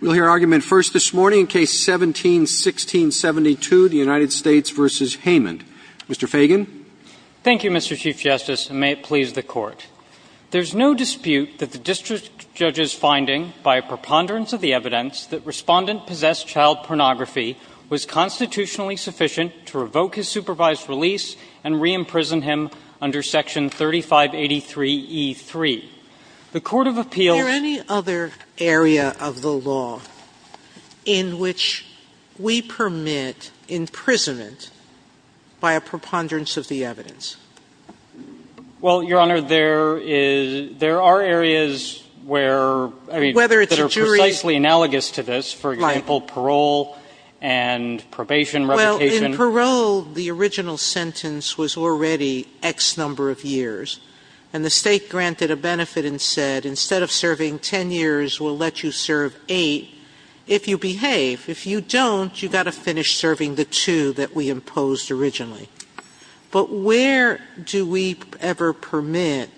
We'll hear argument first this morning in Case 17-1672, the United States v. Haymond. Mr. Fagan. Thank you, Mr. Chief Justice, and may it please the Court. There is no dispute that the district judge's finding, by a preponderance of the evidence, that Respondent possessed child pornography was constitutionally sufficient to revoke his supervised release and re-imprison him under Section 3583e3. The Court of Appeals Is there any other area of the law in which we permit imprisonment by a preponderance of the evidence? Well, Your Honor, there are areas where, I mean, that are precisely analogous to this. For example, parole and probation revocation. Well, in parole, the original sentence was already X number of years, and the State granted a benefit and said, instead of serving 10 years, we'll let you serve 8, if you behave. If you don't, you've got to finish serving the 2 that we imposed originally. But where do we ever permit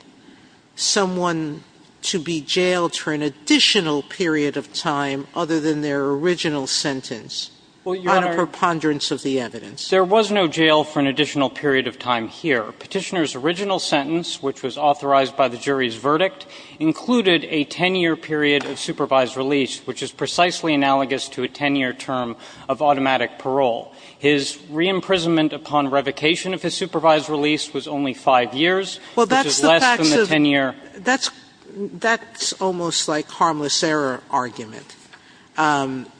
someone to be jailed for an additional period of time other than their original sentence on a preponderance of the evidence? There was no jail for an additional period of time here. Petitioner's original sentence, which was authorized by the jury's verdict, included a 10-year period of supervised release, which is precisely analogous to a 10-year term of automatic parole. His re-imprisonment upon revocation of his supervised release was only 5 years, which is less than the 10-year. Sotomayor, that's almost like harmless error argument.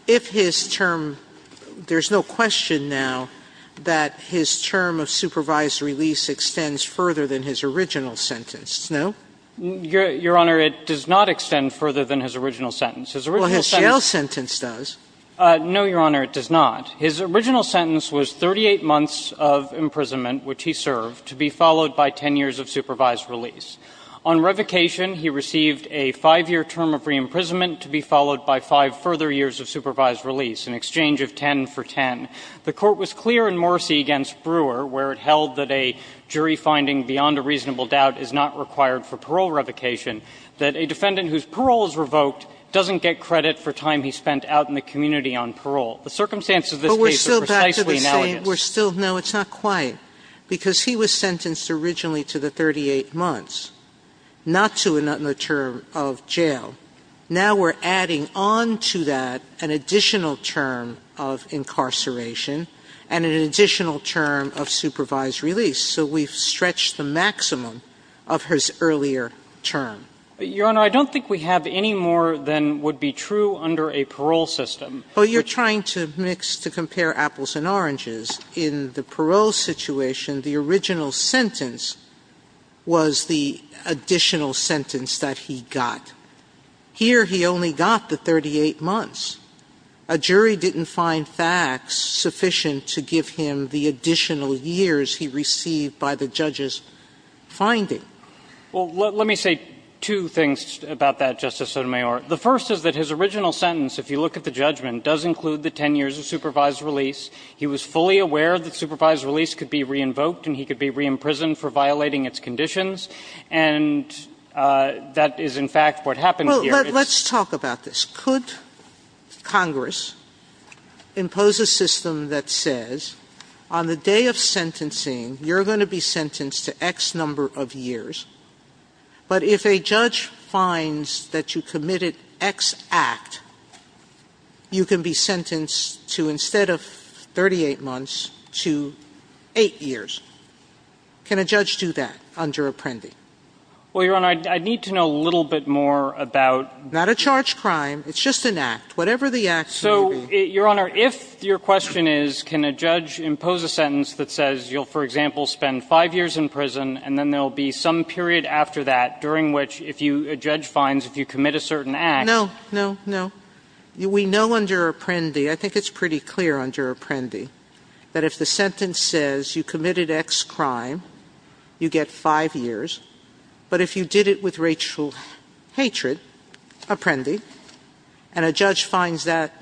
If his term – there's no question now that his term of supervised release extends further than his original sentence, no? Your Honor, it does not extend further than his original sentence. His original sentence – Well, his jail sentence does. No, Your Honor, it does not. His original sentence was 38 months of imprisonment, which he served, to be followed by 10 years of supervised release. On revocation, he received a 5-year term of re-imprisonment to be followed by 5 further years of supervised release, in exchange of 10 for 10. The Court was clear in Morsi v. Brewer, where it held that a jury finding beyond a reasonable doubt is not required for parole revocation, that a defendant whose parole is revoked doesn't get credit for time he spent out in the community on parole. The circumstances of this case are precisely analogous. Sotomayor, But we're still back to the same – we're still – no, it's not quite. Because he was sentenced originally to the 38 months, not to another term of jail. Now we're adding on to that an additional term of incarceration and an additional term of supervised release. So we've stretched the maximum of his earlier term. Your Honor, I don't think we have any more than would be true under a parole system. Well, you're trying to mix – to compare apples and oranges. In the parole situation, the original sentence was the additional sentence that he got. Here, he only got the 38 months. A jury didn't find facts sufficient to give him the additional years he received by the judge's finding. Well, let me say two things about that, Justice Sotomayor. The first is that his original sentence, if you look at the judgment, does include the 10 years of supervised release. He was fully aware that supervised release could be re-invoked and he could be re-imprisoned for violating its conditions. And that is, in fact, what happened here. Well, let's talk about this. Could Congress impose a system that says on the day of sentencing, you're going to be sentenced to X number of years. But if a judge finds that you committed X act, you can be sentenced to, instead of 38 months, to 8 years. Can a judge do that under Apprendi? Well, Your Honor, I'd need to know a little bit more about – Not a charged crime. It's just an act. Whatever the act may be. So, Your Honor, if your question is, can a judge impose a sentence that says you'll, for example, spend 5 years in prison and then there'll be some period after that during which if you – a judge finds if you commit a certain act – No, no, no. We know under Apprendi, I think it's pretty clear under Apprendi, that if the sentence says you committed X crime, you get 5 years. But if you did it with racial hatred, Apprendi, and a judge finds that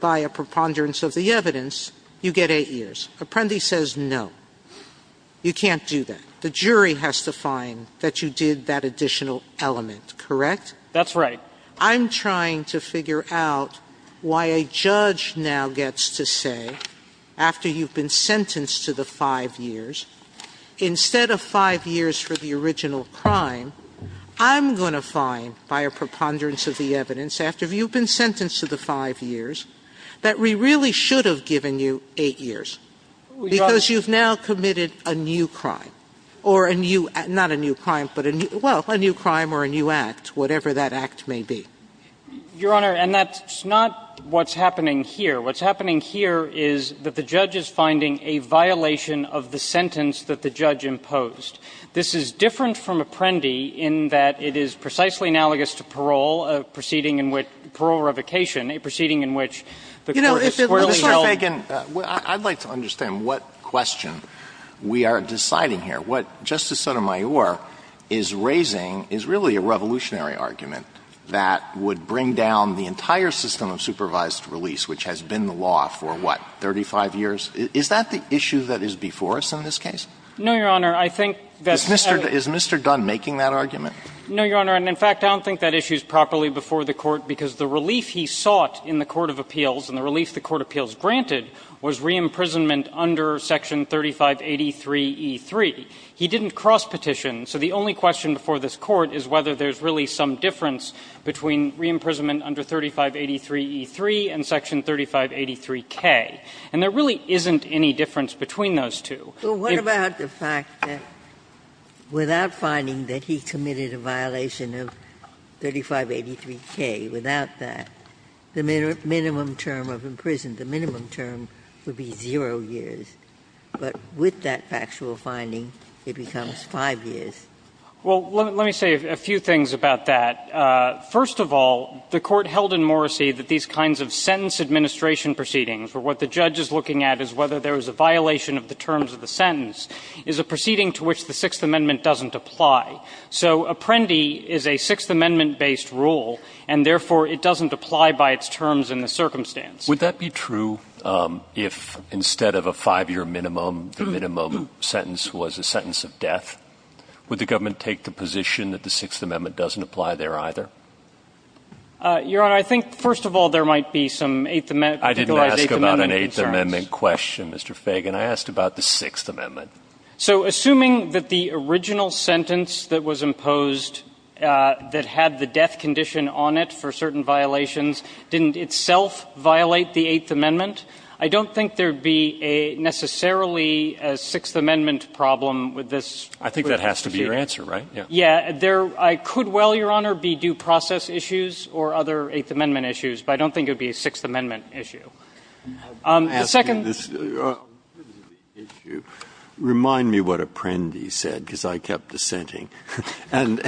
via preponderance of the evidence, you get 8 years. Apprendi says no. You can't do that. The jury has to find that you did that additional element, correct? That's right. I'm trying to figure out why a judge now gets to say, after you've been sentenced to the 5 years, instead of 5 years for the original crime, I'm going to find, via preponderance of the evidence, after you've been sentenced to the 5 years, that we really should have given you 8 years. Because you've now committed a new crime. Or a new – not a new crime, but a new – well, a new crime or a new act, whatever that act may be. Your Honor, and that's not what's happening here. What's happening here is that the judge is finding a violation of the sentence that the judge imposed. This is different from Apprendi in that it is precisely analogous to parole, a proceeding in which – parole revocation, a proceeding in which the court is squarely held – I'd like to understand what question we are deciding here. What Justice Sotomayor is raising is really a revolutionary argument that would bring down the entire system of supervised release, which has been the law for, what, 35 years? Is that the issue that is before us in this case? No, Your Honor. I think that's – Is Mr. Dunn making that argument? No, Your Honor. The only relief he sought in the court of appeals and the relief the court of appeals granted was re-imprisonment under section 3583e3. He didn't cross-petition, so the only question before this Court is whether there's really some difference between re-imprisonment under 3583e3 and section 3583k. And there really isn't any difference between those two. But what about the fact that without finding that he committed a violation of 3583k, without that, the minimum term of imprisonment, the minimum term would be 0 years. But with that factual finding, it becomes 5 years. Well, let me say a few things about that. First of all, the Court held in Morrissey that these kinds of sentence administration proceedings, where what the judge is looking at is whether there is a violation of the terms of the sentence, is a proceeding to which the Sixth Amendment doesn't apply. So Apprendi is a Sixth Amendment-based rule, and therefore, it doesn't apply by its terms in the circumstance. Would that be true if, instead of a 5-year minimum, the minimum sentence was a sentence of death? Would the government take the position that the Sixth Amendment doesn't apply there, either? Your Honor, I think, first of all, there might be some Eighth Amendment concerns. I didn't ask about an Eighth Amendment question, Mr. Feigin. I asked about the Sixth Amendment. So assuming that the original sentence that was imposed, that had the death condition on it for certain violations, didn't itself violate the Eighth Amendment, I don't think there would be necessarily a Sixth Amendment problem with this. I think that has to be your answer, right? Yeah. Yeah. There could well, Your Honor, be due process issues or other Eighth Amendment issues, but I don't think it would be a Sixth Amendment issue. The second question is, remind me what Apprendi said, because I kept dissenting. And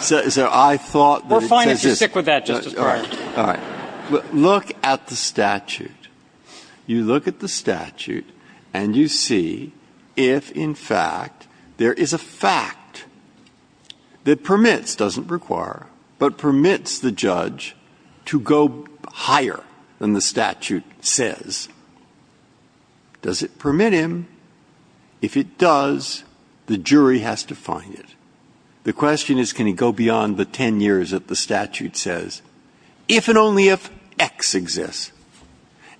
so I thought that it says this. We're fine if you stick with that, Justice Breyer. All right. Look at the statute. You look at the statute and you see if, in fact, there is a fact that permits the judge to go higher than the statute says, does it permit him? If it does, the jury has to find it. The question is, can he go beyond the 10 years that the statute says, if and only if X exists.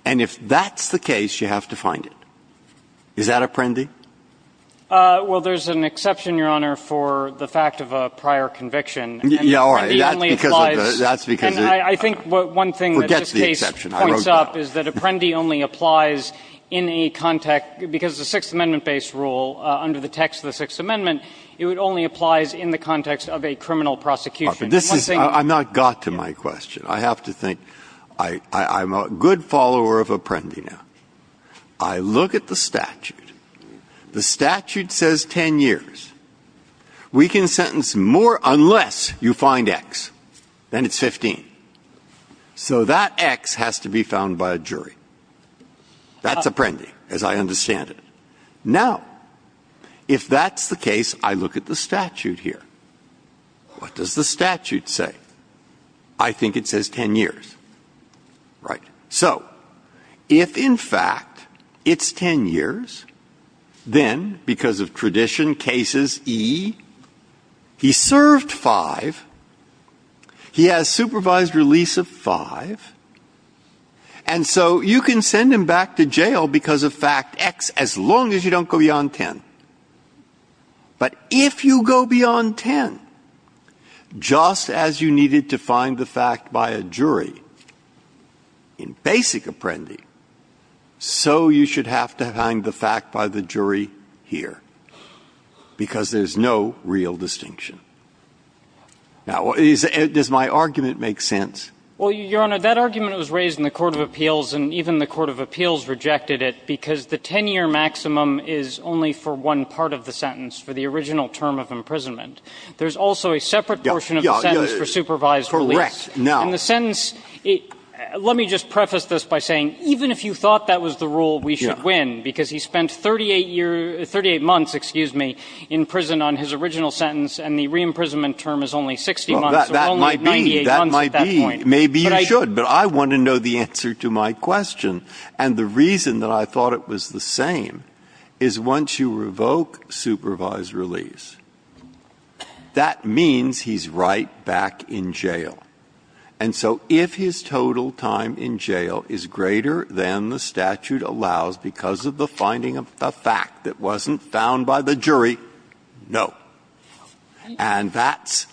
And if that's the case, you have to find it. Is that Apprendi? Well, there's an exception, Your Honor, for the fact of a prior conviction. Yeah, all right. That's because of the – that's because of the – forgets the exception. I wrote that. And I think one thing that this case points up is that Apprendi only applies in a context – because the Sixth Amendment-based rule, under the text of the Sixth Amendment, it only applies in the context of a criminal prosecution. But this is – I'm not got to my question. I have to think – I'm a good follower of Apprendi now. I look at the statute. The statute says 10 years. We can sentence more unless you find X. Then it's 15. So that X has to be found by a jury. That's Apprendi, as I understand it. Now, if that's the case, I look at the statute here. What does the statute say? I think it says 10 years. Right. So if, in fact, it's 10 years, then, because of tradition, cases E, he served five. He has supervised release of five. And so you can send him back to jail because of fact X, as long as you don't go beyond 10. But if you go beyond 10, just as you needed to find the fact by a jury in basic Apprendi, so you should have to find the fact by the jury here, because there's no real distinction. Now, is – does my argument make sense? Well, Your Honor, that argument was raised in the court of appeals, and even the court of appeals rejected it because the 10-year maximum is only for one part of the sentence for the original term of imprisonment. There's also a separate portion of the sentence for supervised release. Correct. Now – In the sentence – let me just preface this by saying, even if you thought that was the rule, we should win, because he spent 38 years – 38 months, excuse me, in prison on his original sentence, and the re-imprisonment term is only 60 months, or only 98 months at that point. Maybe you should, but I want to know the answer to my question. And the reason that I thought it was the same is once you revoke supervised release, that means he's right back in jail. And so if his total time in jail is greater than the statute allows because of the finding of the fact that wasn't found by the jury, no. And that's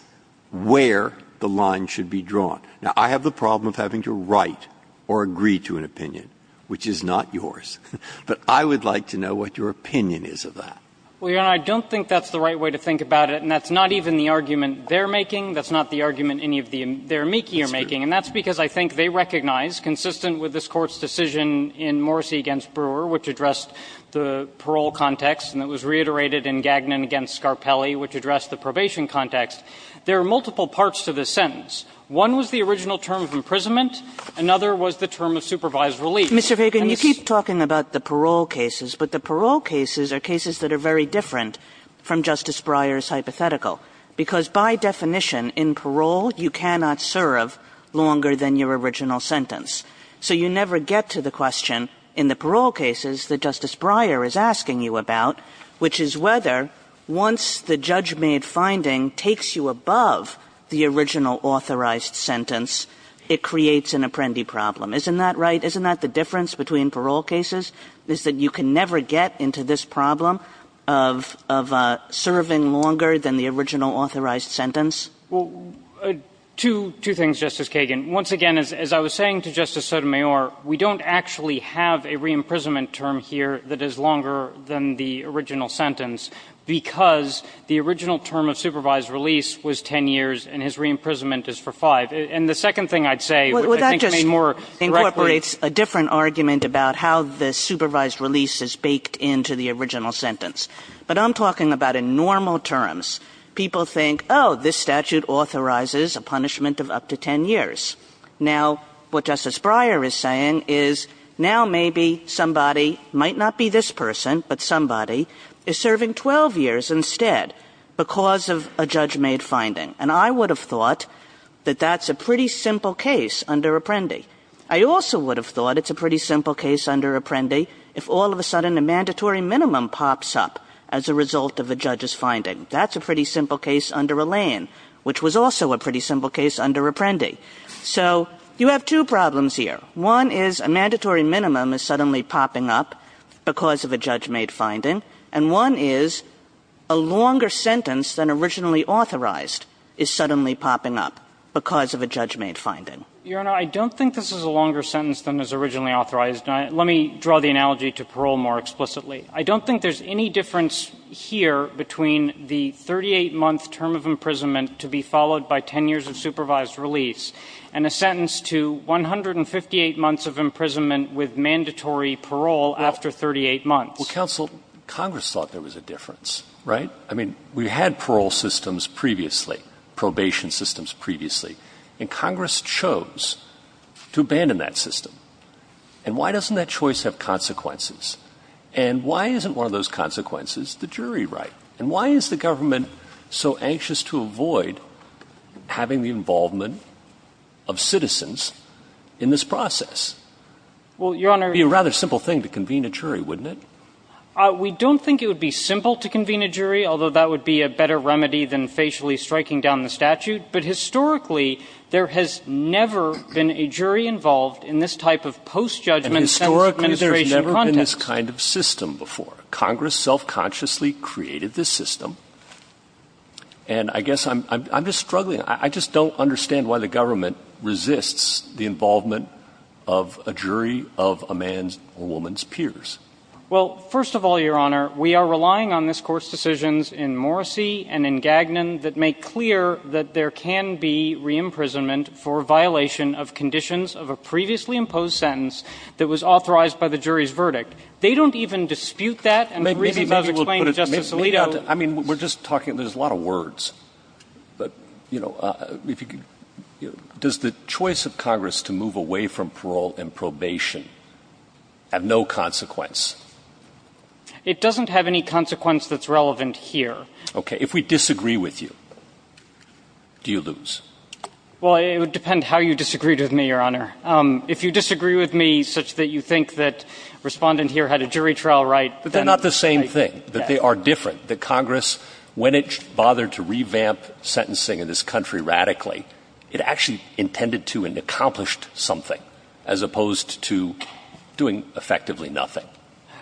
where the line should be drawn. Now, I have the problem of having to write or agree to an opinion, which is not yours. But I would like to know what your opinion is of that. Well, Your Honor, I don't think that's the right way to think about it. And that's not even the argument they're making. That's not the argument any of their amici are making. And that's because I think they recognize, consistent with this Court's decision in Morrissey v. Brewer, which addressed the parole context, and it was reiterated in Gagnon v. Scarpelli, which addressed the probation context, there are multiple parts to this sentence. One was the original term of imprisonment. Another was the term of supervised release. And it's the same in the parole context. Kagan, you keep talking about the parole cases. But the parole cases are cases that are very different from Justice Breyer's hypothetical, because by definition, in parole, you cannot serve longer than your original sentence. So you never get to the question in the parole cases that Justice Breyer is asking you about, which is whether, once the judge-made finding takes you above the original authorized sentence, it creates an apprendi problem. Isn't that right? Isn't that the difference between parole cases, is that you can never get into this problem of serving longer than the original authorized sentence? Well, two things, Justice Kagan. Once again, as I was saying to Justice Sotomayor, we don't actually have a re-imprisonment term here that is longer than the original sentence, because the original term of re-imprisonment is for five. And the second thing I'd say, which I think may more directly – Well, that just incorporates a different argument about how the supervised release is baked into the original sentence. But I'm talking about in normal terms. People think, oh, this statute authorizes a punishment of up to 10 years. Now, what Justice Breyer is saying is, now maybe somebody, might not be this person, but somebody, is serving 12 years instead because of a judge-made finding. And I would have thought that that's a pretty simple case under Apprendi. I also would have thought it's a pretty simple case under Apprendi if all of a sudden a mandatory minimum pops up as a result of a judge's finding. That's a pretty simple case under Allain, which was also a pretty simple case under Apprendi. So, you have two problems here. One is, a mandatory minimum is suddenly popping up because of a judge-made finding, and one is, a longer sentence than originally authorized is suddenly popping up because of a judge-made finding. Your Honor, I don't think this is a longer sentence than is originally authorized. Let me draw the analogy to parole more explicitly. I don't think there's any difference here between the 38-month term of imprisonment to be followed by 10 years of supervised release, and a sentence to 158 months of imprisonment with mandatory parole after 38 months. Well, counsel, Congress thought there was a difference, right? I mean, we had parole systems previously, probation systems previously, and Congress chose to abandon that system. And why doesn't that choice have consequences? And why isn't one of those consequences the jury right? And why is the government so anxious to avoid having the involvement of citizens in this process? Well, Your Honor. It would be a rather simple thing to convene a jury, wouldn't it? We don't think it would be simple to convene a jury, although that would be a better remedy than facially striking down the statute. But historically, there has never been a jury involved in this type of post-judgment sentence administration context. And historically, there's never been this kind of system before. Congress self-consciously created this system. And I guess I'm just struggling. I just don't understand why the government resists the involvement of a jury of a man's or a woman's peers. Well, first of all, Your Honor, we are relying on this Court's decisions in Morrissey and in Gagnon that make clear that there can be re-imprisonment for violation of conditions of a previously imposed sentence that was authorized by the jury's verdict. They don't even dispute that. And the reason that I've explained to Justice Alito. I mean, we're just talking. There's a lot of words. But, you know, does the choice of Congress to move away from parole and probation have no consequence? It doesn't have any consequence that's relevant here. Okay. If we disagree with you, do you lose? Well, it would depend how you disagreed with me, Your Honor. If you disagree with me such that you think that Respondent here had a jury trial right, then. But they're not the same thing. They are different. The Congress, when it bothered to revamp sentencing in this country radically, it actually intended to and accomplished something as opposed to doing effectively nothing.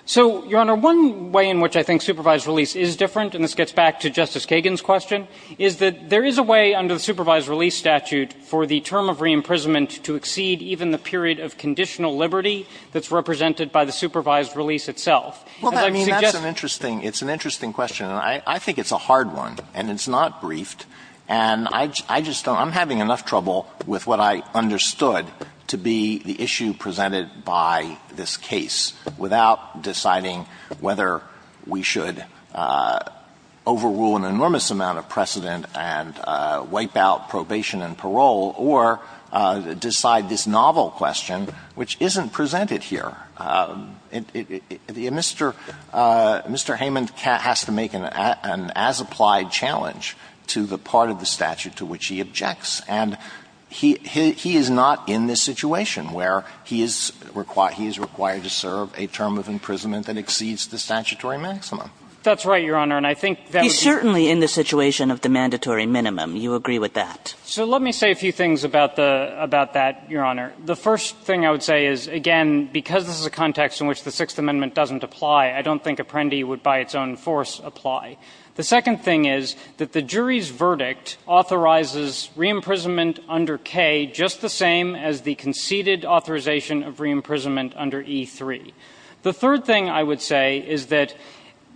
So, Your Honor, one way in which I think supervised release is different, and this gets back to Justice Kagan's question, is that there is a way under the supervised release statute for the term of re-imprisonment to exceed even the period of conditional liberty that's represented by the supervised release itself. Well, I mean, that's an interesting question. And I think it's a hard one. And it's not briefed. And I just don't – I'm having enough trouble with what I understood to be the issue presented by this case without deciding whether we should overrule an enormous amount of precedent and wipe out probation and parole or decide this novel question, which isn't presented here. Mr. Heyman has to make an as-applied challenge to the part of the statute to which he objects. And he is not in this situation where he is required to serve a term of imprisonment that exceeds the statutory maximum. That's right, Your Honor. And I think that would be – He's certainly in the situation of the mandatory minimum. You agree with that. So let me say a few things about that, Your Honor. The first thing I would say is, again, because this is a context in which the Sixth Amendment doesn't apply, I don't think Apprendi would by its own force apply. The second thing is that the jury's verdict authorizes re-imprisonment under K just the same as the conceded authorization of re-imprisonment under E-3. The third thing I would say is that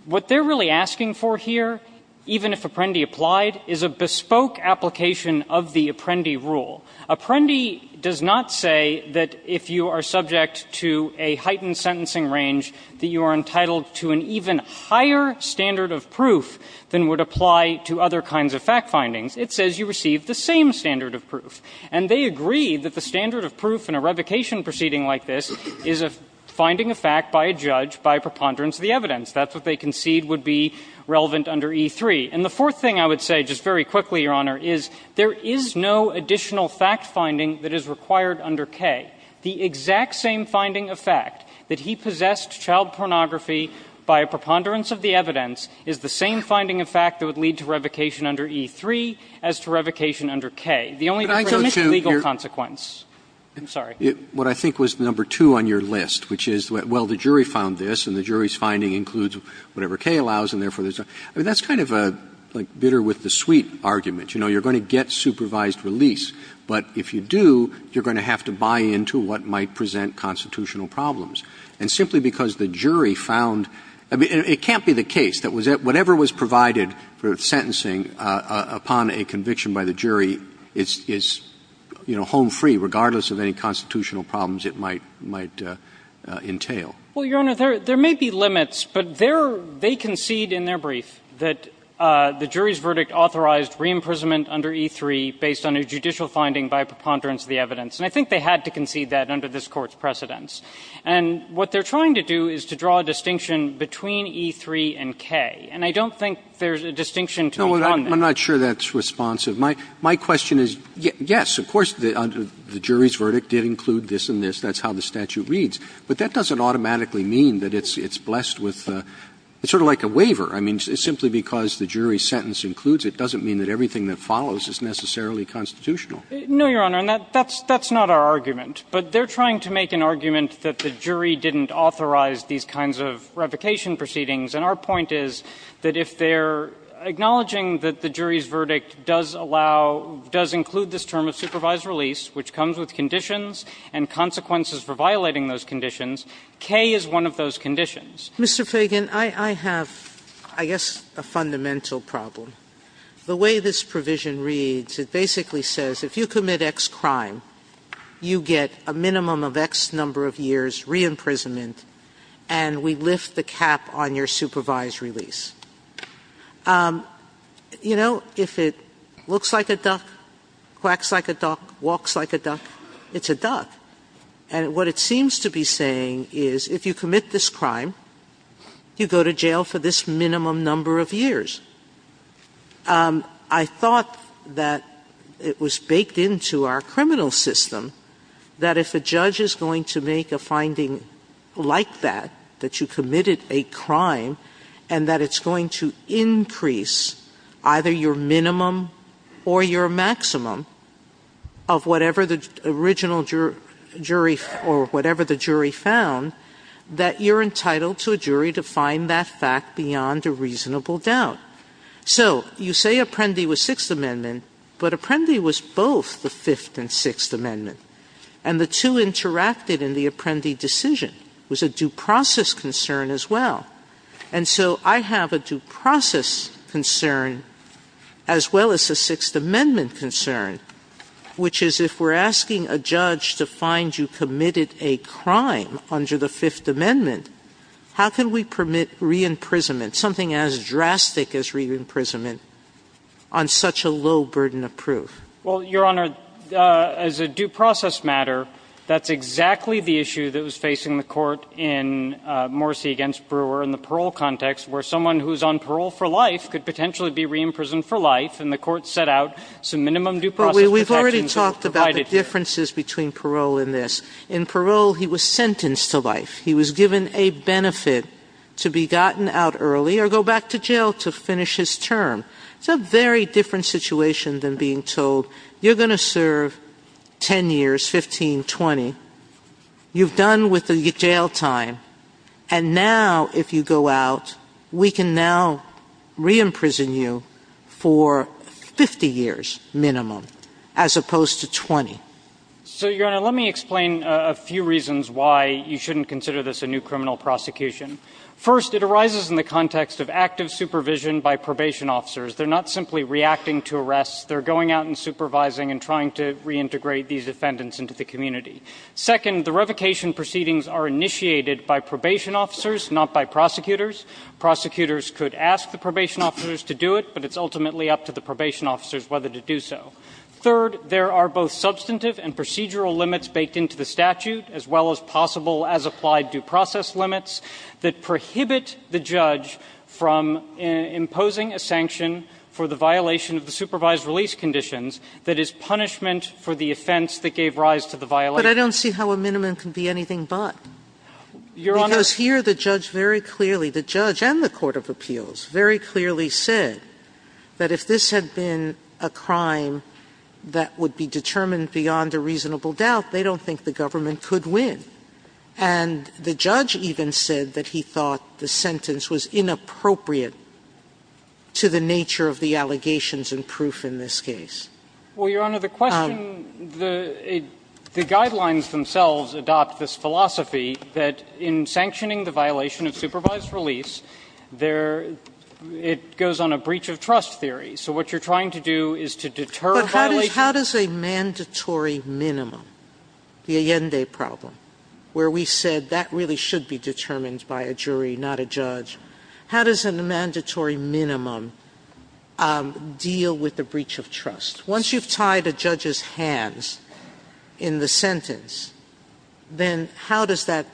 what they're really asking for here, even if Apprendi applied, is a bespoke application of the Apprendi rule. Apprendi does not say that if you are subject to a heightened sentencing range that you are entitled to an even higher standard of proof than would apply to other kinds of fact findings. It says you receive the same standard of proof. And they agree that the standard of proof in a revocation proceeding like this is a finding of fact by a judge by preponderance of the evidence. That's what they concede would be relevant under E-3. And the fourth thing I would say, just very quickly, Your Honor, is there is no additional fact finding that is required under K. The exact same finding of fact that he possessed child pornography by a preponderance of the evidence is the same finding of fact that would lead to revocation under E-3 as to revocation under K. The only difference is the legal consequence. I'm sorry. Roberts. What I think was number two on your list, which is, well, the jury found this and the jury's finding includes whatever K allows and therefore there's a – I mean, that's kind of a, like, bitter with the sweet argument. You know, you're going to get supervised release, but if you do, you're going to have to buy into what might present constitutional problems. And simply because the jury found – I mean, it can't be the case that whatever was provided for sentencing upon a conviction by the jury is, you know, home free regardless of any constitutional problems it might entail. Well, Your Honor, there may be limits, but they concede in their brief that the jury's verdict authorized re-imprisonment under E-3 based on a judicial finding by a preponderance of the evidence. And I think they had to concede that under this Court's precedence. And what they're trying to do is to draw a distinction between E-3 and K. And I don't think there's a distinction to be found there. No, I'm not sure that's responsive. My question is, yes, of course, the jury's verdict did include this and this. That's how the statute reads. But that doesn't automatically mean that it's blessed with – it's sort of like a waiver. I mean, simply because the jury's sentence includes it doesn't mean that everything that follows is necessarily constitutional. No, Your Honor. And that's not our argument. But they're trying to make an argument that the jury didn't authorize these kinds of revocation proceedings. And our point is that if they're acknowledging that the jury's verdict does allow – does include this term of supervised release, which comes with conditions and consequences for violating those conditions, K is one of those conditions. Mr. Feigin, I have, I guess, a fundamental problem. The way this provision reads, it basically says if you commit X crime, you get a minimum of X number of years re-imprisonment, and we lift the cap on your supervised release. You know, if it looks like a duck, quacks like a duck, walks like a duck, it's a duck. And what it seems to be saying is if you commit this crime, you go to jail for this minimum number of years. I thought that it was baked into our criminal system that if a judge is going to make a finding like that, that you committed a crime, and that it's going to increase either your minimum or your maximum of whatever the original jury or whatever the jury found, that you're entitled to a jury to find that fact beyond a reasonable doubt. So you say Apprendi was Sixth Amendment, but Apprendi was both the Fifth and Sixth Amendment, and the two interacted in the Apprendi decision. It was a due process concern as well. And so I have a due process concern as well as a Sixth Amendment concern, which is if we're asking a judge to find you committed a crime under the Fifth Amendment, how can we permit re-imprisonment, something as drastic as re-imprisonment, on such a low burden of proof? Well, Your Honor, as a due process matter, that's exactly the issue that was facing the court in Morsi v. Brewer in the parole context, where someone who's on parole for life could potentially be re-imprisoned for life. And the court set out some minimum due process protections that were provided to them. But we've already talked about the differences between parole and this. In parole, he was sentenced to life. He was given a benefit to be gotten out early or go back to jail to finish his term. It's a very different situation than being told, you're going to serve 10 years, 15, 20. You've done with the jail time. And now, if you go out, we can now re-imprison you for 50 years minimum, as opposed to 20. So, Your Honor, let me explain a few reasons why you shouldn't consider this a new criminal prosecution. First, it arises in the context of active supervision by probation officers. They're not simply reacting to arrests. They're going out and supervising and trying to reintegrate these defendants into the community. Second, the revocation proceedings are initiated by probation officers, not by prosecutors. Prosecutors could ask the probation officers to do it, but it's ultimately up to the probation officers whether to do so. Third, there are both substantive and procedural limits baked into the statute, as well as possible as applied due process limits that prohibit the judge from imposing a sanction for the violation of the supervised release conditions that is punishment for the offense that gave rise to the violation. Sotomayor But I don't see how a minimum can be anything but. Because here the judge very clearly, the judge and the court of appeals, very clearly said that if this had been a crime that would be determined beyond a reasonable doubt, they don't think the government could win. And the judge even said that he thought the sentence was inappropriate to the nature of the allegations and proof in this case. Feigin Well, Your Honor, the question, the guidelines themselves adopt this philosophy that in sanctioning the violation of supervised release, there, it goes on a breach of trust theory. So what you're trying to do is to deter a violation. Sotomayor But how does a mandatory minimum, the Allende problem? Where we said that really should be determined by a jury, not a judge. How does a mandatory minimum deal with the breach of trust? Once you've tied a judge's hands in the sentence, then how does that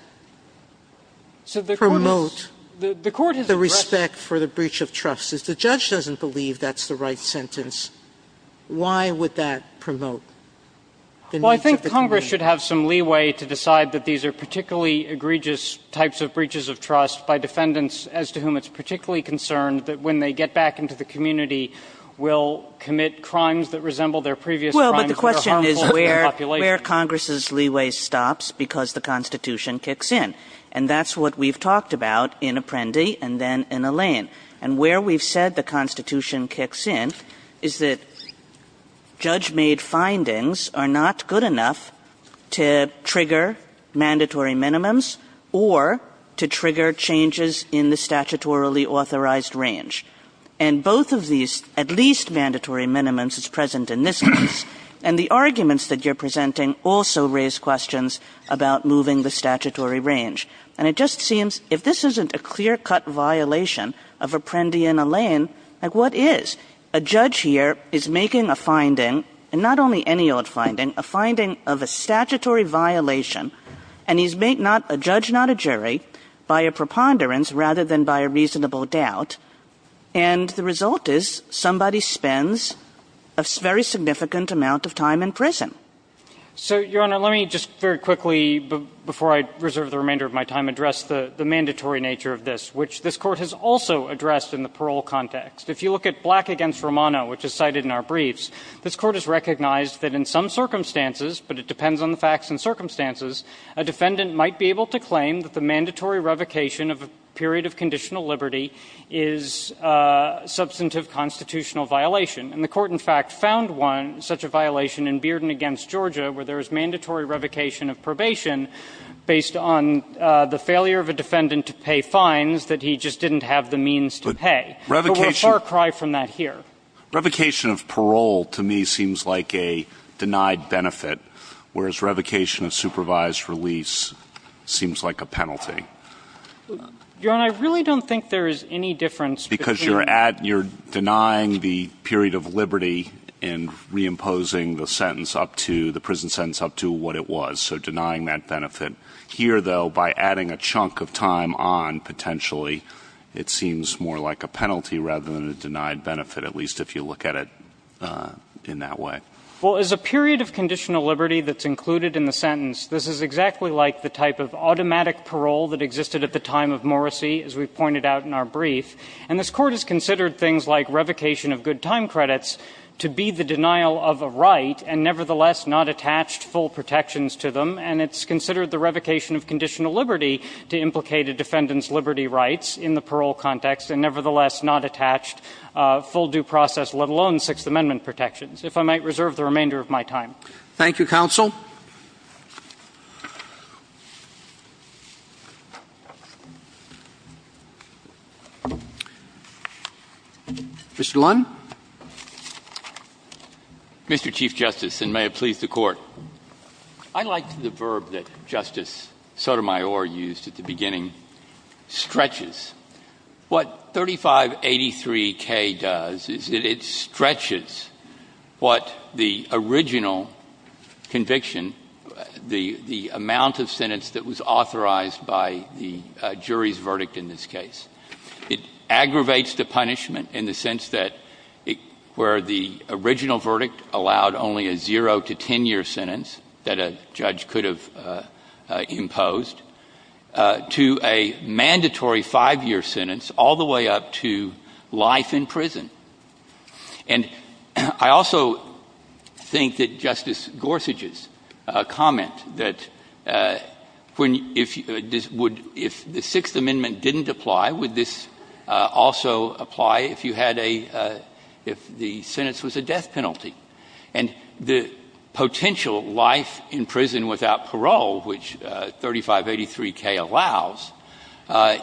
promote the respect for the breach of trust? If the judge doesn't believe that's the right sentence, why would that promote the needs of the jury? Feigin Well, the jury should have some leeway to decide that these are particularly egregious types of breaches of trust by defendants as to whom it's particularly concerned that when they get back into the community, will commit crimes that resemble their previous crimes that are harmful to the population. Kagan Well, but the question is where Congress's leeway stops because the Constitution kicks in, and that's what we've talked about in Apprendi and then in Allende. And where we've said the Constitution kicks in is that judge-made findings are not good enough to trigger mandatory minimums or to trigger changes in the statutorily authorized range. And both of these, at least mandatory minimums, is present in this case. And the arguments that you're presenting also raise questions about moving the statutory range. And it just seems, if this isn't a clear-cut violation of Apprendi and Allende, like, what is? A judge here is making a finding, and not only any old finding, a finding of a statutory violation, and he's made not a judge, not a jury, by a preponderance rather than by a reasonable doubt. And the result is somebody spends a very significant amount of time in prison. So, Your Honor, let me just very quickly, before I reserve the remainder of my time, address the mandatory nature of this, which this Court has also addressed in the parole context. If you look at Black v. Romano, which is cited in our briefs, this Court has recognized that in some circumstances, but it depends on the facts and circumstances, a defendant might be able to claim that the mandatory revocation of a period of conditional liberty is a substantive constitutional violation. And the Court, in fact, found one, such a violation in Bearden v. Georgia, where there is mandatory revocation of probation based on the failure of a defendant to pay fines that he just didn't have the means to pay. But we're a far cry from that here. Revocation of parole, to me, seems like a denied benefit, whereas revocation of supervised release seems like a penalty. Your Honor, I really don't think there is any difference between the two. It's a period of liberty in reimposing the sentence up to, the prison sentence up to what it was, so denying that benefit. Here, though, by adding a chunk of time on, potentially, it seems more like a penalty rather than a denied benefit, at least if you look at it in that way. Well, as a period of conditional liberty that's included in the sentence, this is exactly like the type of automatic parole that existed at the time of Morrissey, as we've pointed out in our brief. And this Court has considered things like revocation of good time credits to be the denial of a right and nevertheless not attached full protections to them. And it's considered the revocation of conditional liberty to implicate a defendant's liberty rights in the parole context and nevertheless not attached full due process, let alone Sixth Amendment protections. If I might reserve the remainder of my time. Thank you, Counsel. Mr. Lund? Mr. Chief Justice, and may it please the Court. I like the verb that Justice Sotomayor used at the beginning, stretches. What 3583K does is it stretches what the original conviction, the amount of sentence that was authorized by the jury's verdict in this case. It aggravates the punishment in the sense that where the original verdict allowed only a zero to 10-year sentence that a judge could have imposed, to a mandatory five-year sentence, all the way up to life in prison. And I also think that Justice Gorsuch's comment that if the Sixth Amendment didn't apply, would this also apply if you had a, if the sentence was a death penalty? And the potential life in prison without parole, which 3583K allows,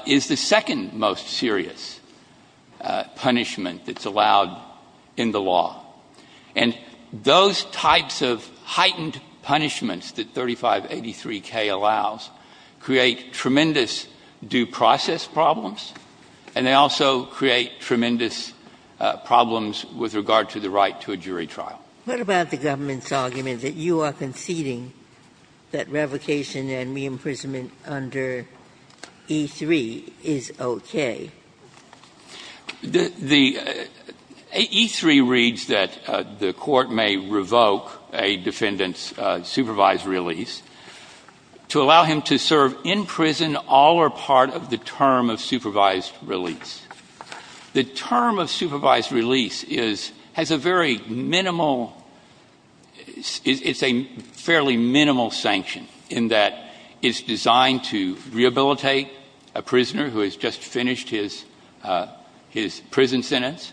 is the same as the second most serious punishment that's allowed in the law. And those types of heightened punishments that 3583K allows create tremendous due process problems, and they also create tremendous problems with regard to the right to a jury trial. What about the government's argument that you are conceding that revocation and suspension of parole is okay? The E-3 reads that the Court may revoke a defendant's supervised release to allow him to serve in prison all or part of the term of supervised release. The term of supervised release is, has a very minimal, it's a fairly minimal sanction in that it's designed to rehabilitate a prisoner who has just finished his prison sentence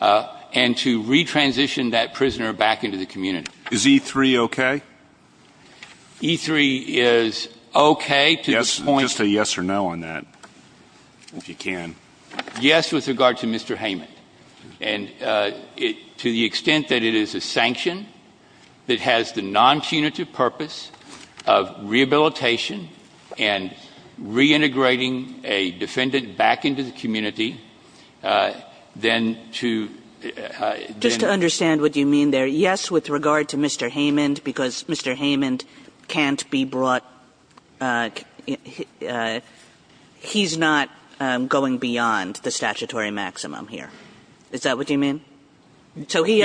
and to re-transition that prisoner back into the community. Is E-3 okay? E-3 is okay to this point. Just a yes or no on that, if you can. Yes, with regard to Mr. Heyman. And to the extent that it is a sanction that has the non-punitive purpose of rehabilitation and reintegrating a defendant back into the community, then to then to understand what you mean there. Yes, with regard to Mr. Heyman, because Mr. Heyman can't be brought, he's not going beyond the statutory maximum here. Is that what you mean? Yes. So he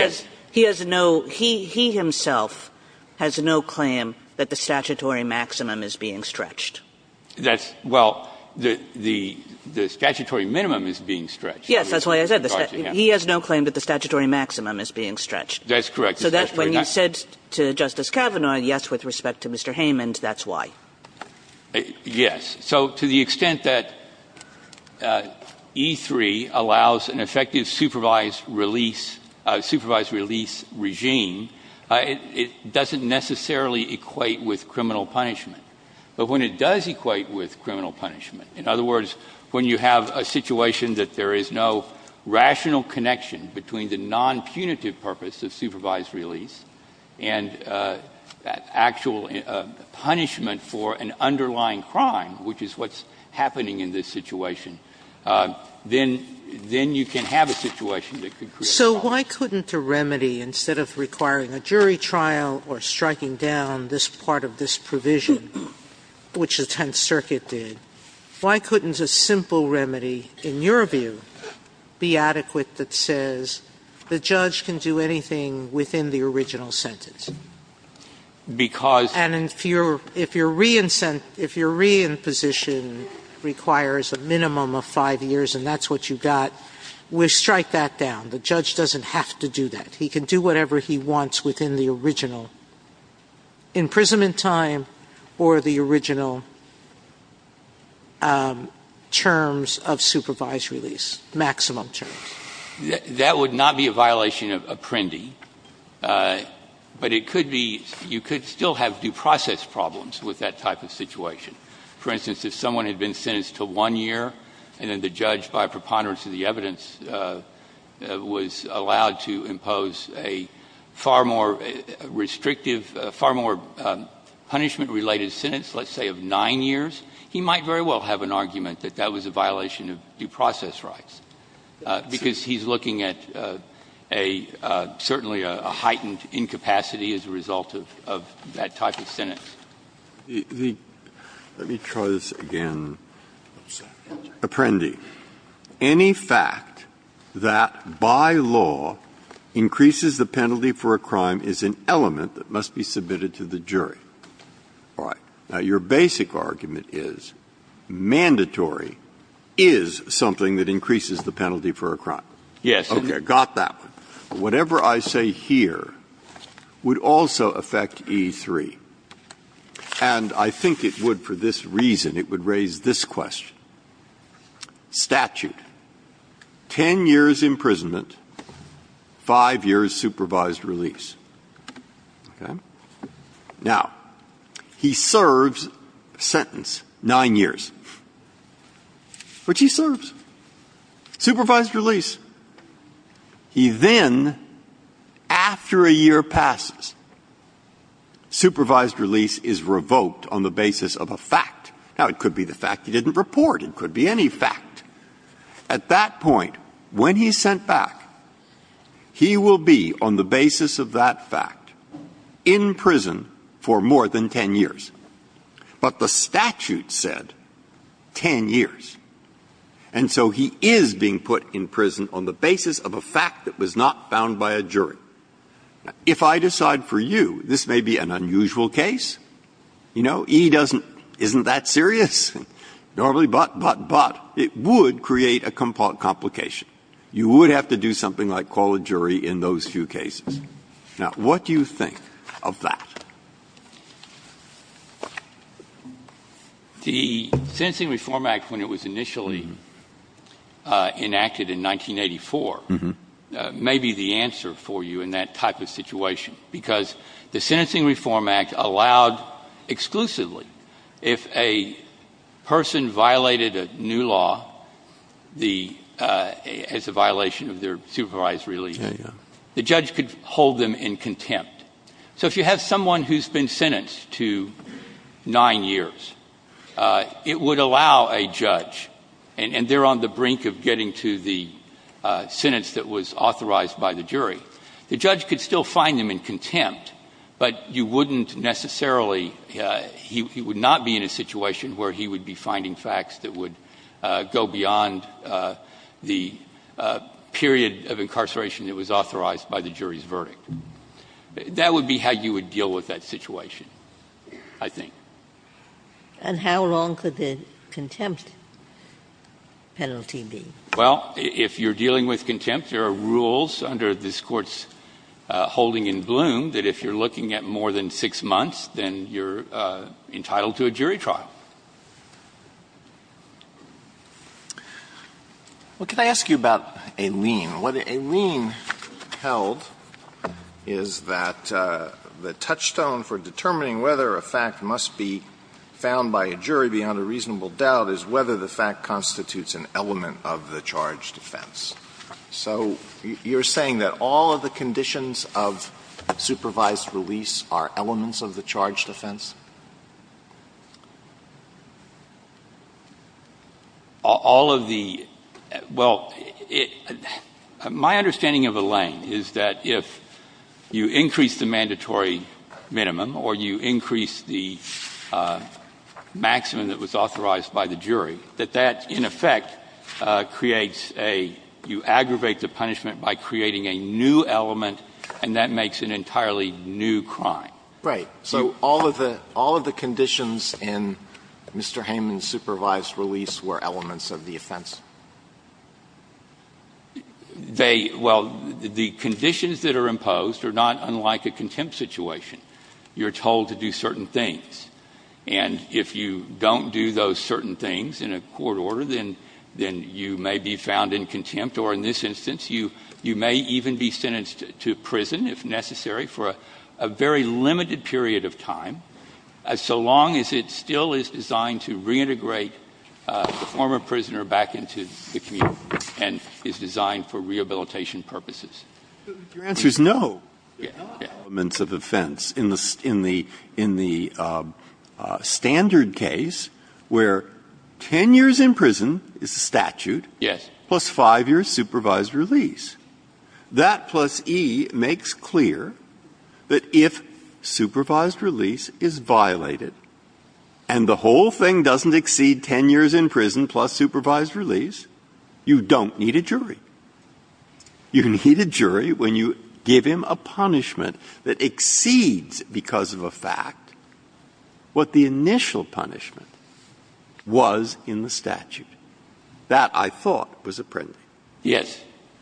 has no, he himself has no claim that the statutory maximum is being stretched. That's, well, the statutory minimum is being stretched. Yes, that's what I said. He has no claim that the statutory maximum is being stretched. That's correct. So when you said to Justice Kavanaugh, yes, with respect to Mr. Heyman, that's why. Yes. So to the extent that E-3 allows an effective supervised release regime, it doesn't necessarily equate with criminal punishment. But when it does equate with criminal punishment, in other words, when you have a situation that there is no rational connection between the non-punitive purpose of which is what's happening in this situation, then you can have a situation that could create a problem. So why couldn't a remedy, instead of requiring a jury trial or striking down this part of this provision, which the Tenth Circuit did, why couldn't a simple remedy, in your view, be adequate that says the judge can do anything within the original sentence? Because. And if your re-imposition requires a minimum of 5 years and that's what you got, we strike that down. The judge doesn't have to do that. He can do whatever he wants within the original imprisonment time or the original terms of supervised release, maximum terms. That would not be a violation of Apprendi. But it could be you could still have due process problems with that type of situation. For instance, if someone had been sentenced to 1 year and then the judge, by preponderance of the evidence, was allowed to impose a far more restrictive, far more punishment-related sentence, let's say of 9 years, he might very well have an argument that that was a violation of due process rights. Because he's looking at a certainly a heightened incapacity as a result of that type of sentence. Breyer. Let me try this again. Apprendi. Any fact that by law increases the penalty for a crime is an element that must be submitted to the jury. All right. Now, your basic argument is mandatory is something that increases the penalty for a crime. Yes. Okay. Got that one. Whatever I say here would also affect E3. And I think it would for this reason. It would raise this question. Statute. 10 years imprisonment, 5 years supervised release. Okay. Now, he serves a sentence, 9 years, which he serves. Supervised release. He then, after a year passes, supervised release is revoked on the basis of a fact. Now, it could be the fact he didn't report. It could be any fact. At that point, when he's sent back, he will be on the basis of that fact in prison for more than 10 years. But the statute said 10 years. And so he is being put in prison on the basis of a fact that was not found by a jury. Now, if I decide for you this may be an unusual case, you know, E doesn't, isn't that serious? Normally, but, but, but, it would create a complication. You would have to do something like call a jury in those few cases. Now, what do you think of that? The Sentencing Reform Act, when it was initially enacted in 1984, may be the answer for you in that type of situation. Because the Sentencing Reform Act allowed exclusively if a person violated a new law, the, as a violation of their supervised release, the judge could hold them in contempt. So if you have someone who's been sentenced to nine years, it would allow a judge, and they're on the brink of getting to the sentence that was authorized by the jury, the judge could still find them in contempt, but you wouldn't necessarily he would not be in a situation where he would be finding facts that would go beyond the period of incarceration that was authorized by the jury's verdict. That would be how you would deal with that situation, I think. And how long could the contempt penalty be? Well, if you're dealing with contempt, there are rules under this Court's holding in Bloom that if you're looking at more than six months, then you're entitled to a jury trial. Alitoson What could I ask you about a lien? What a lien held is that the touchstone for determining whether a fact must be found by a jury beyond a reasonable doubt is whether the fact constitutes an element of the charge defense. So you're saying that all of the conditions of supervised release are elements of the charge defense? All of the – well, my understanding of a lien is that if you increase the mandatory minimum or you increase the maximum that was authorized by the jury, that that in effect creates a – you aggravate the punishment by creating a new element, and that makes an entirely new crime. Right. So all of the – all of the conditions in Mr. Heyman's supervised release were elements of the offense? They – well, the conditions that are imposed are not unlike a contempt situation. You're told to do certain things, and if you don't do those certain things in a court order, then you may be found in contempt, or in this instance, you may even be sentenced to prison if necessary for a very limited period of time, so long as it still is designed to reintegrate the former prisoner back into the community and is designed for rehabilitation purposes. Your answer is no. They're not elements of offense in the standard case where 10 years in prison is a statute plus 5 years supervised release. That plus E makes clear that if supervised release is violated and the whole thing doesn't exceed 10 years in prison plus supervised release, you don't need a jury. You need a jury when you give him a punishment that exceeds, because of a fact, what the initial punishment was in the statute. That, I thought, was apprending. Yes.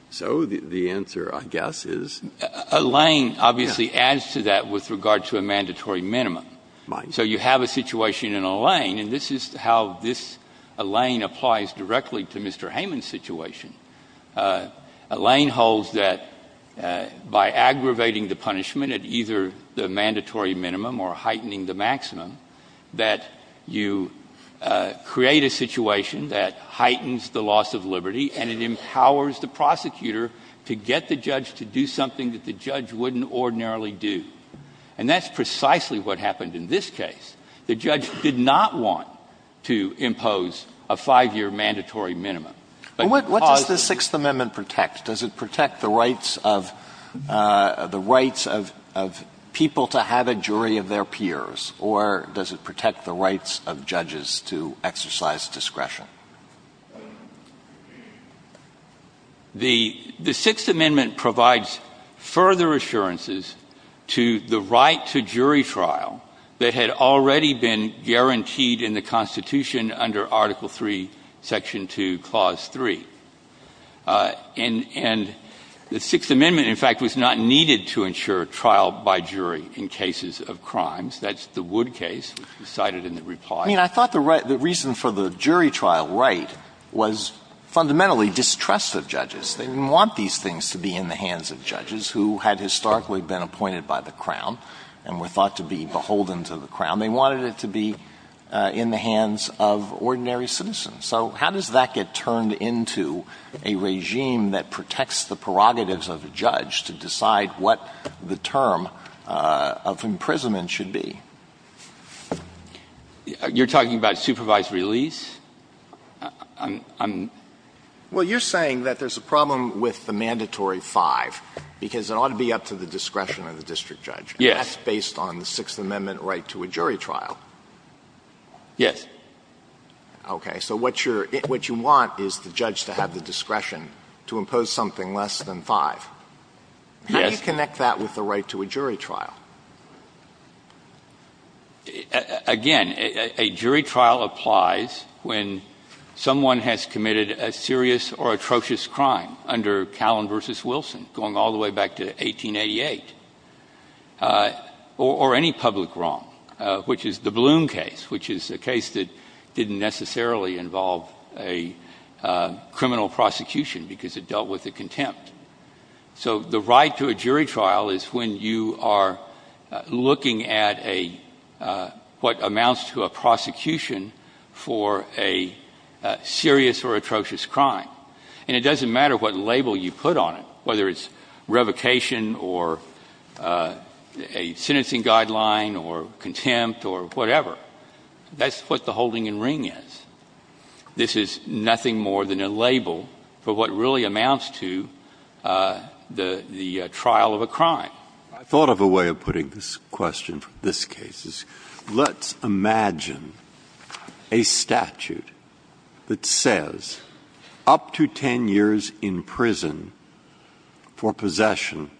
So the answer, I guess, is no. Alain obviously adds to that with regard to a mandatory minimum. Mind you. So you have a situation in Alain, and this is how this Alain applies directly to Mr. Hayman's situation. Alain holds that by aggravating the punishment at either the mandatory minimum or heightening the maximum, that you create a situation that heightens the loss of liberty and it empowers the prosecutor to get the judge to do something that the judge wouldn't ordinarily do. And that's precisely what happened in this case. The judge did not want to impose a 5-year mandatory minimum. What does the Sixth Amendment protect? Does it protect the rights of people to have a jury of their peers, or does it protect the rights of judges to exercise discretion? The Sixth Amendment provides further assurances to the right to jury trial that had already been guaranteed in the Constitution under Article III, Section 2, Clause 3. And the Sixth Amendment, in fact, was not needed to ensure trial by jury in cases of crimes. That's the Wood case cited in the reply. I mean, I thought the reason for the jury trial right was fundamentally distrust of judges. They didn't want these things to be in the hands of judges who had historically been appointed by the Crown and were thought to be beholden to the Crown. They wanted it to be in the hands of ordinary citizens. So how does that get turned into a regime that protects the prerogatives of a judge to decide what the term of imprisonment should be? You're talking about supervised release? Well, you're saying that there's a problem with the mandatory 5 because it ought to be up to the discretion of the district judge. Yes. And that's based on the Sixth Amendment right to a jury trial. Yes. Okay. So what you want is the judge to have the discretion to impose something less than 5. Yes. How do you connect that with the right to a jury trial? Again, a jury trial applies when someone has committed a serious or atrocious crime under Callan v. Wilson going all the way back to 1888 or any public wrong, which is the Bloom case, which is a case that didn't necessarily involve a criminal prosecution because it dealt with the contempt. So the right to a jury trial is when you are looking at what amounts to a prosecution for a serious or atrocious crime. And it doesn't matter what label you put on it, whether it's revocation or a sentencing guideline or contempt or whatever. That's what the holding in ring is. This is nothing more than a label for what really amounts to the trial of a crime. I thought of a way of putting this question for this case. Let's imagine a statute that says up to 10 years in prison for possession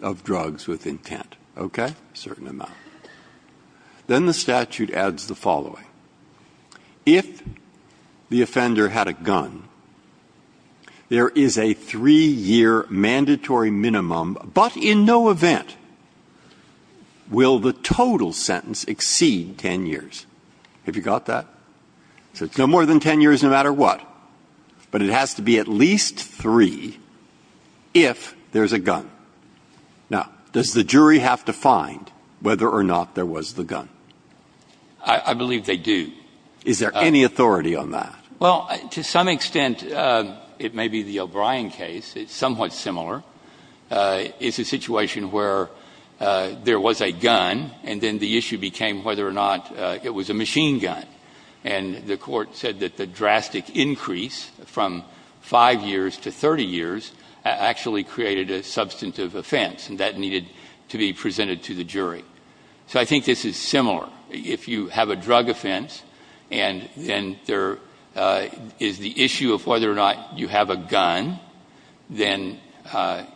of drugs with intent. Okay? A certain amount. Then the statute adds the following. If the offender had a gun, there is a 3-year mandatory minimum. But in no event will the total sentence exceed 10 years. Have you got that? So it's no more than 10 years no matter what. But it has to be at least 3 if there's a gun. Now, does the jury have to find whether or not there was the gun? I believe they do. Is there any authority on that? Well, to some extent, it may be the O'Brien case. It's somewhat similar. It's a situation where there was a gun and then the issue became whether or not it was a machine gun. And the court said that the drastic increase from 5 years to 30 years actually created a substantive offense. And that needed to be presented to the jury. So I think this is similar. If you have a drug offense and then there is the issue of whether or not you have a gun, then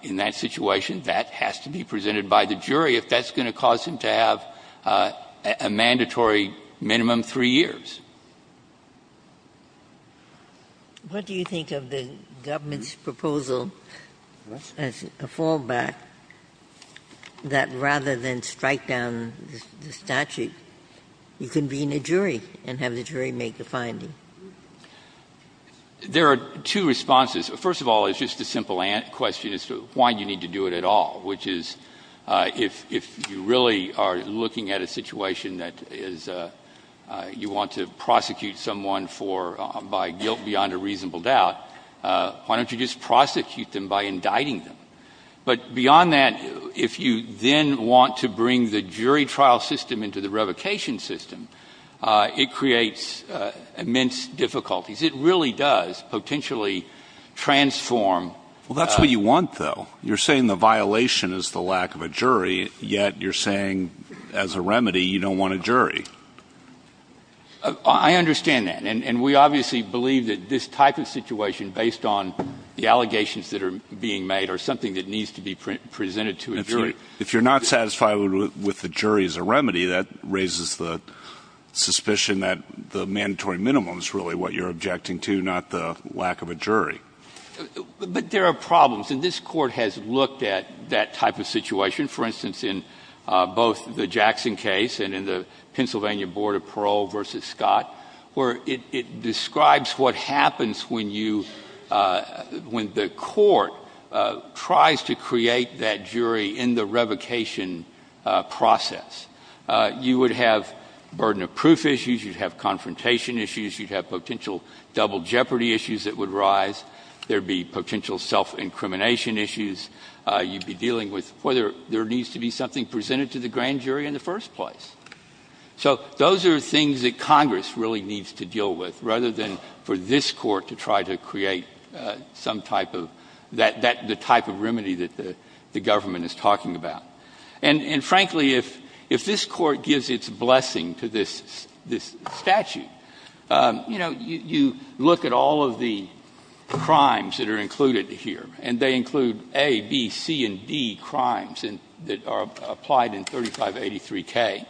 in that situation, that has to be presented by the jury if that's going to cause him to have a mandatory minimum 3 years. What do you think of the government's proposal as a fallback that rather than strike down the statute, you convene a jury and have the jury make a finding? There are two responses. First of all, it's just a simple question as to why you need to do it at all, which is if you really are looking at a situation that you want to prosecute someone by guilt beyond a reasonable doubt, why don't you just prosecute them by indicting them? But beyond that, if you then want to bring the jury trial system into the revocation system, it creates immense difficulties. It really does potentially transform. Well, that's what you want, though. You're saying the violation is the lack of a jury, yet you're saying as a remedy you don't want a jury. I understand that. And we obviously believe that this type of situation based on the allegations that are being made are something that needs to be presented to a jury. If you're not satisfied with the jury as a remedy, that raises the suspicion that the mandatory minimum is really what you're objecting to, not the lack of a jury. But there are problems. And this court has looked at that type of situation, for instance, in both the Jackson case and in the Pennsylvania Board of Parole versus Scott, where it describes what happens when the court tries to create that jury in the revocation process. You would have burden of proof issues. You'd have confrontation issues. You'd have potential double jeopardy issues that would rise. There'd be potential self-incrimination issues. You'd be dealing with whether there needs to be something presented to the grand jury in the first place. So those are things that Congress really needs to deal with, rather than for this court to try to create some type of remedy that the government is talking about. And frankly, if this court gives its blessing to this statute, you look at all of the crimes that are included here, and they include A, B, C, and D crimes that are applied in 3583K.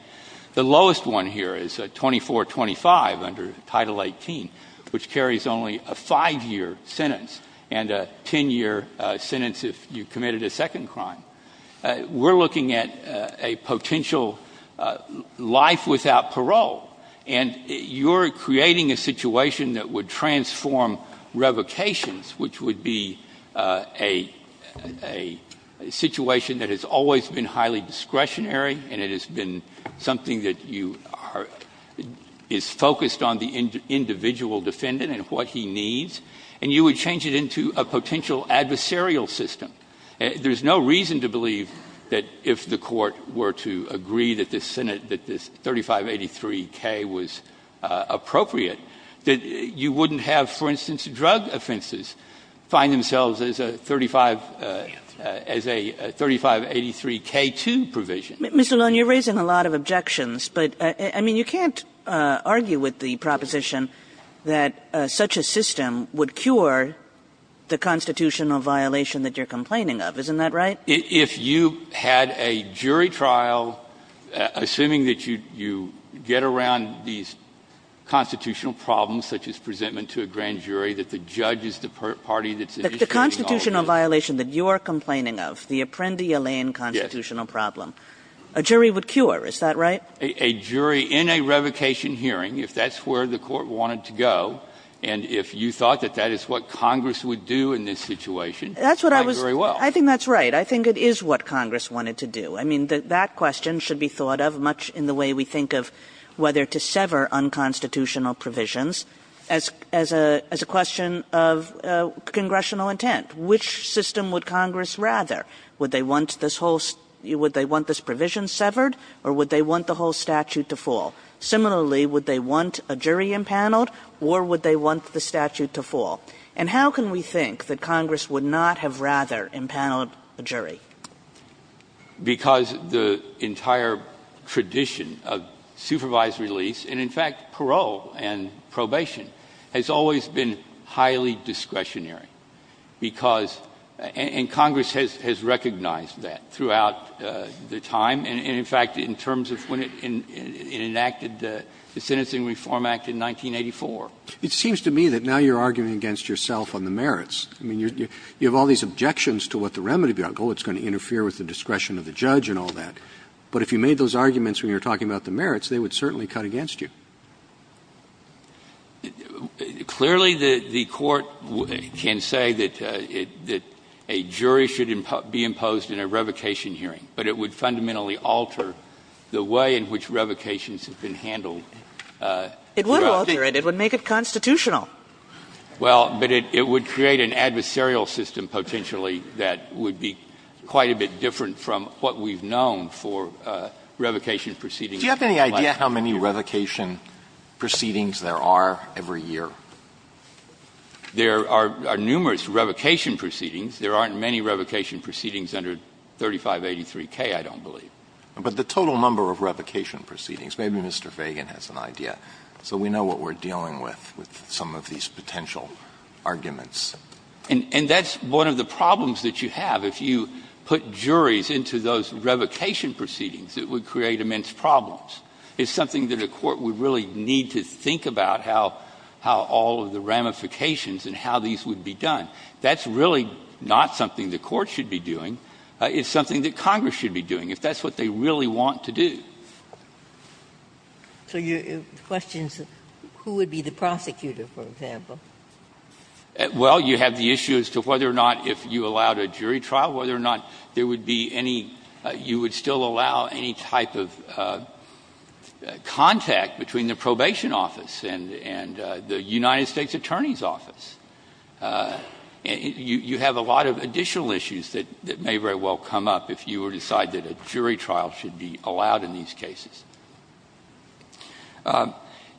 The lowest one here is 2425 under Title 18, which carries only a five-year sentence, and a ten-year sentence if you committed a second crime. We're looking at a potential life without parole. And you're creating a situation that would transform revocations, which would be a situation that has always been highly discretionary, and it has been something that is focused on the individual defendant and what he needs. And you would change it into a potential adversarial system. There's no reason to believe that if the court were to agree that this Senate, that this 3583K was appropriate, that you wouldn't have, for instance, drug offenses find themselves as a 3583K2 provision. Mr. Lone, you're raising a lot of objections, but, I mean, you can't argue with the proposition that such a system would cure the constitutional violation that you're complaining of. Isn't that right? If you had a jury trial, assuming that you get around these constitutional problems, such as presentment to a grand jury, that the judge is the party that's initiating all of this. The constitutional violation that you're complaining of, the Apprendi-Alain constitutional problem, a jury would cure. Is that right? A jury in a revocation hearing, if that's where the court wanted to go, and if you thought that that is what Congress would do in this situation, it might very well. I think that's right. I think it is what Congress wanted to do. I mean, that question should be thought of, much in the way we think of whether to sever unconstitutional provisions, as a question of congressional intent. Which system would Congress rather? Would they want this provision severed, or would they want the whole statute to fall? Similarly, would they want a jury impaneled, or would they want the statute to fall? And how can we think that Congress would not have rather impaneled a jury? Because the entire tradition of supervised release, and, in fact, parole and probation, has always been highly discretionary. Because, and Congress has recognized that throughout the time. And, in fact, in terms of when it enacted the Sentencing Reform Act in 1984. It seems to me that now you're arguing against yourself on the merits. I mean, you have all these objections to what the remedy would be. Oh, it's going to interfere with the discretion of the judge and all that. But if you made those arguments when you were talking about the merits, they would certainly cut against you. Clearly, the Court can say that a jury should be imposed in a revocation hearing. But it would fundamentally alter the way in which revocations have been handled. It would alter it. It would make it constitutional. Well, but it would create an adversarial system, potentially, that would be quite a bit different from what we've known for revocation proceedings. Do you have any idea how many revocation proceedings there are every year? There are numerous revocation proceedings. There aren't many revocation proceedings under 3583K, I don't believe. But the total number of revocation proceedings. Maybe Mr. Fagan has an idea. So we know what we're dealing with, with some of these potential arguments. And that's one of the problems that you have. If you put juries into those revocation proceedings, it would create immense problems. It's something that a court would really need to think about, how all of the ramifications and how these would be done. That's really not something the Court should be doing. It's something that Congress should be doing, if that's what they really want to do. So your question is, who would be the prosecutor, for example? Well, you have the issue as to whether or not, if you allowed a jury trial, whether or not there would be any, you would still allow any type of contact between the probation office and the United States Attorney's Office. You have a lot of additional issues that may very well come up, if you decide that a jury trial should be allowed in these cases.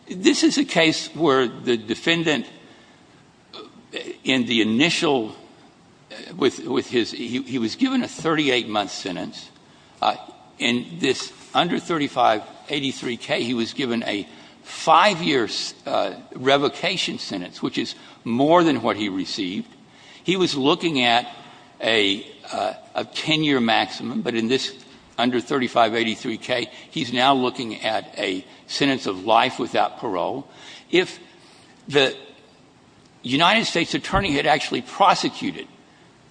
This is a case where the defendant, in the initial, with his, he was given a 38-month sentence. In this under 3583K, he was given a five-year revocation sentence, which is more than what he received. He was looking at a 10-year maximum, but in this under 3583K, he's now looking at a sentence of life without parole. If the United States Attorney had actually prosecuted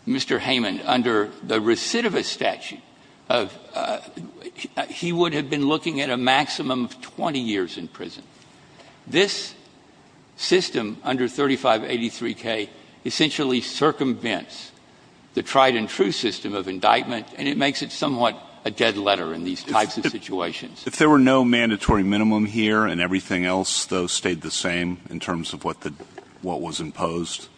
Mr. Heyman under the recidivist statute, he would have been looking at a maximum of 20 years in prison. This system under 3583K essentially circumvents the tried-and-true system of indictment, and it makes it somewhat a dead letter in these types of situations. If there were no mandatory minimum here and everything else, though, stayed the same in terms of what the, what was imposed,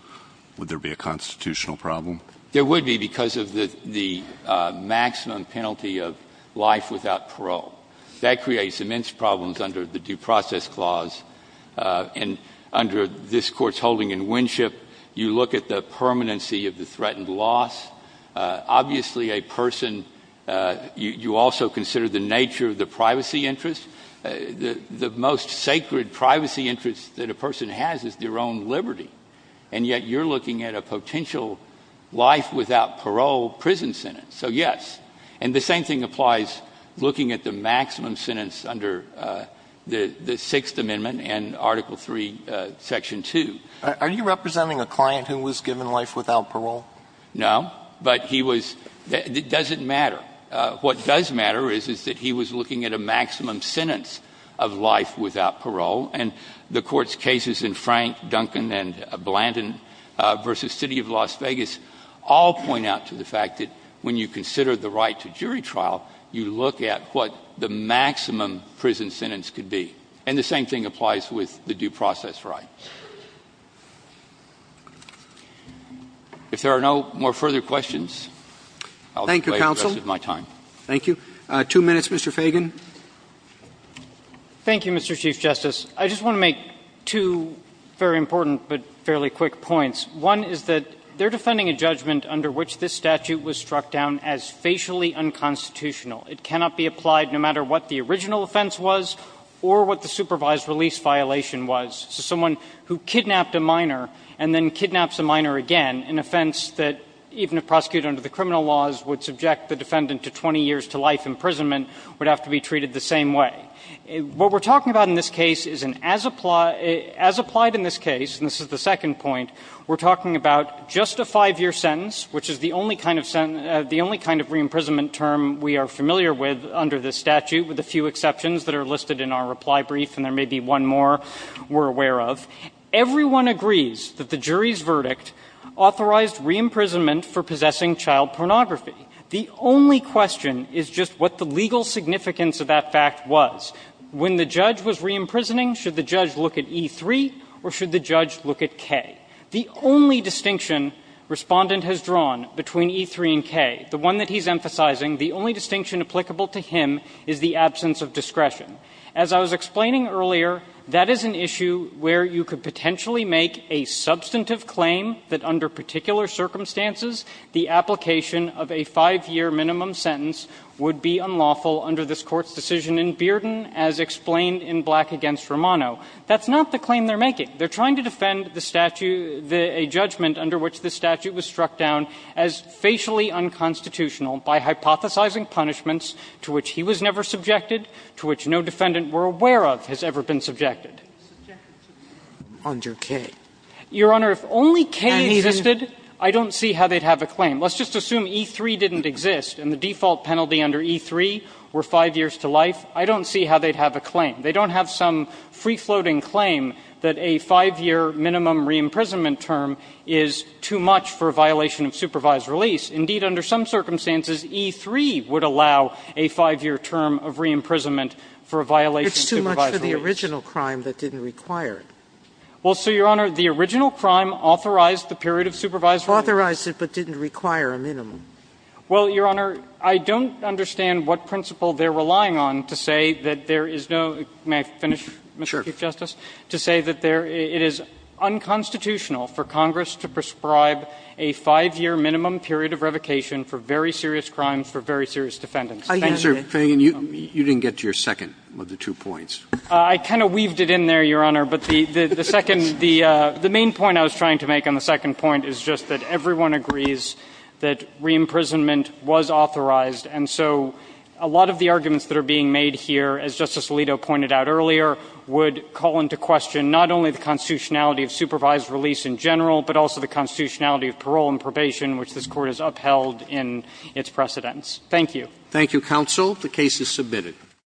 would there be a constitutional problem? There would be because of the maximum penalty of life without parole. That creates immense problems under the due process clause. And under this Court's holding in Winship, you look at the permanency of the threatened loss. Obviously, a person, you also consider the nature of the privacy interest. The most sacred privacy interest that a person has is their own liberty, and yet you're looking at a potential life without parole prison sentence. So, yes. And the same thing applies looking at the maximum sentence under the Sixth Amendment and Article III, Section 2. Are you representing a client who was given life without parole? No. But he was, it doesn't matter. What does matter is that he was looking at a maximum sentence of life without parole. And the Court's cases in Frank, Duncan, and Blandin v. City of Las Vegas all point out to the fact that when you consider the right to jury trial, you look at what the maximum prison sentence could be. And the same thing applies with the due process right. If there are no more further questions, I'll play the rest of my time. Thank you, counsel. Thank you. Two minutes, Mr. Fagan. Thank you, Mr. Chief Justice. I just want to make two very important but fairly quick points. One is that they're defending a judgment under which this statute was struck down as facially unconstitutional. It cannot be applied no matter what the original offense was or what the supervised release violation was. So someone who kidnapped a minor and then kidnaps a minor again, an offense that even if prosecuted under the criminal laws would subject the defendant to 20 years to life imprisonment, would have to be treated the same way. What we're talking about in this case is an as applied, as applied in this case, and this is the second point, we're talking about just a five-year sentence, which is the only kind of sentence, the only kind of re-imprisonment term we are familiar with under this statute, with a few exceptions that are listed in our reply brief, and there may be one more we're aware of. Everyone agrees that the jury's verdict authorized re-imprisonment for possessing child pornography. The only question is just what the legal significance of that fact was. When the judge was re-imprisoning, should the judge look at E3 or should the judge look at K? The only distinction Respondent has drawn between E3 and K, the one that he's emphasizing, the only distinction applicable to him is the absence of discretion. As I was explaining earlier, that is an issue where you could potentially make a substantive claim that under particular circumstances, the application of a five-year minimum sentence would be unlawful under this Court's decision in Bearden, as explained in Black v. Romano. That's not the claim they're making. They're trying to defend the statute, a judgment under which the statute was struck down as facially unconstitutional by hypothesizing punishments to which he was never subjected, to which no defendant were aware of has ever been subjected. Under K. Your Honor, if only K existed, I don't see how they'd have a claim. Let's just assume E3 didn't exist and the default penalty under E3 were five years to life. I don't see how they'd have a claim. They don't have some free-floating claim that a five-year minimum re-imprisonment term is too much for a violation of supervised release. Indeed, under some circumstances, E3 would allow a five-year term of re-imprisonment for a violation of supervised release. Sotomayor, it's too much for the original crime that didn't require it. Well, so, Your Honor, the original crime authorized the period of supervised release. Authorized it, but didn't require a minimum. Well, Your Honor, I don't understand what principle they're relying on to say that there is no – may I finish, Mr. Chief Justice? Sure. To say that it is unconstitutional for Congress to prescribe a five-year minimum period of revocation for very serious crimes for very serious defendants. Thank you. Mr. Feigin, you didn't get to your second of the two points. I kind of weaved it in there, Your Honor, but the main point I was trying to make on the second point is just that everyone agrees that re-imprisonment was authorized, and so a lot of the arguments that are being made here, as Justice Alito pointed out earlier, would call into question not only the constitutionality of supervised release in general, but also the constitutionality of parole and probation, which this Court has upheld in its precedents. Thank you. Thank you, counsel. The case is submitted.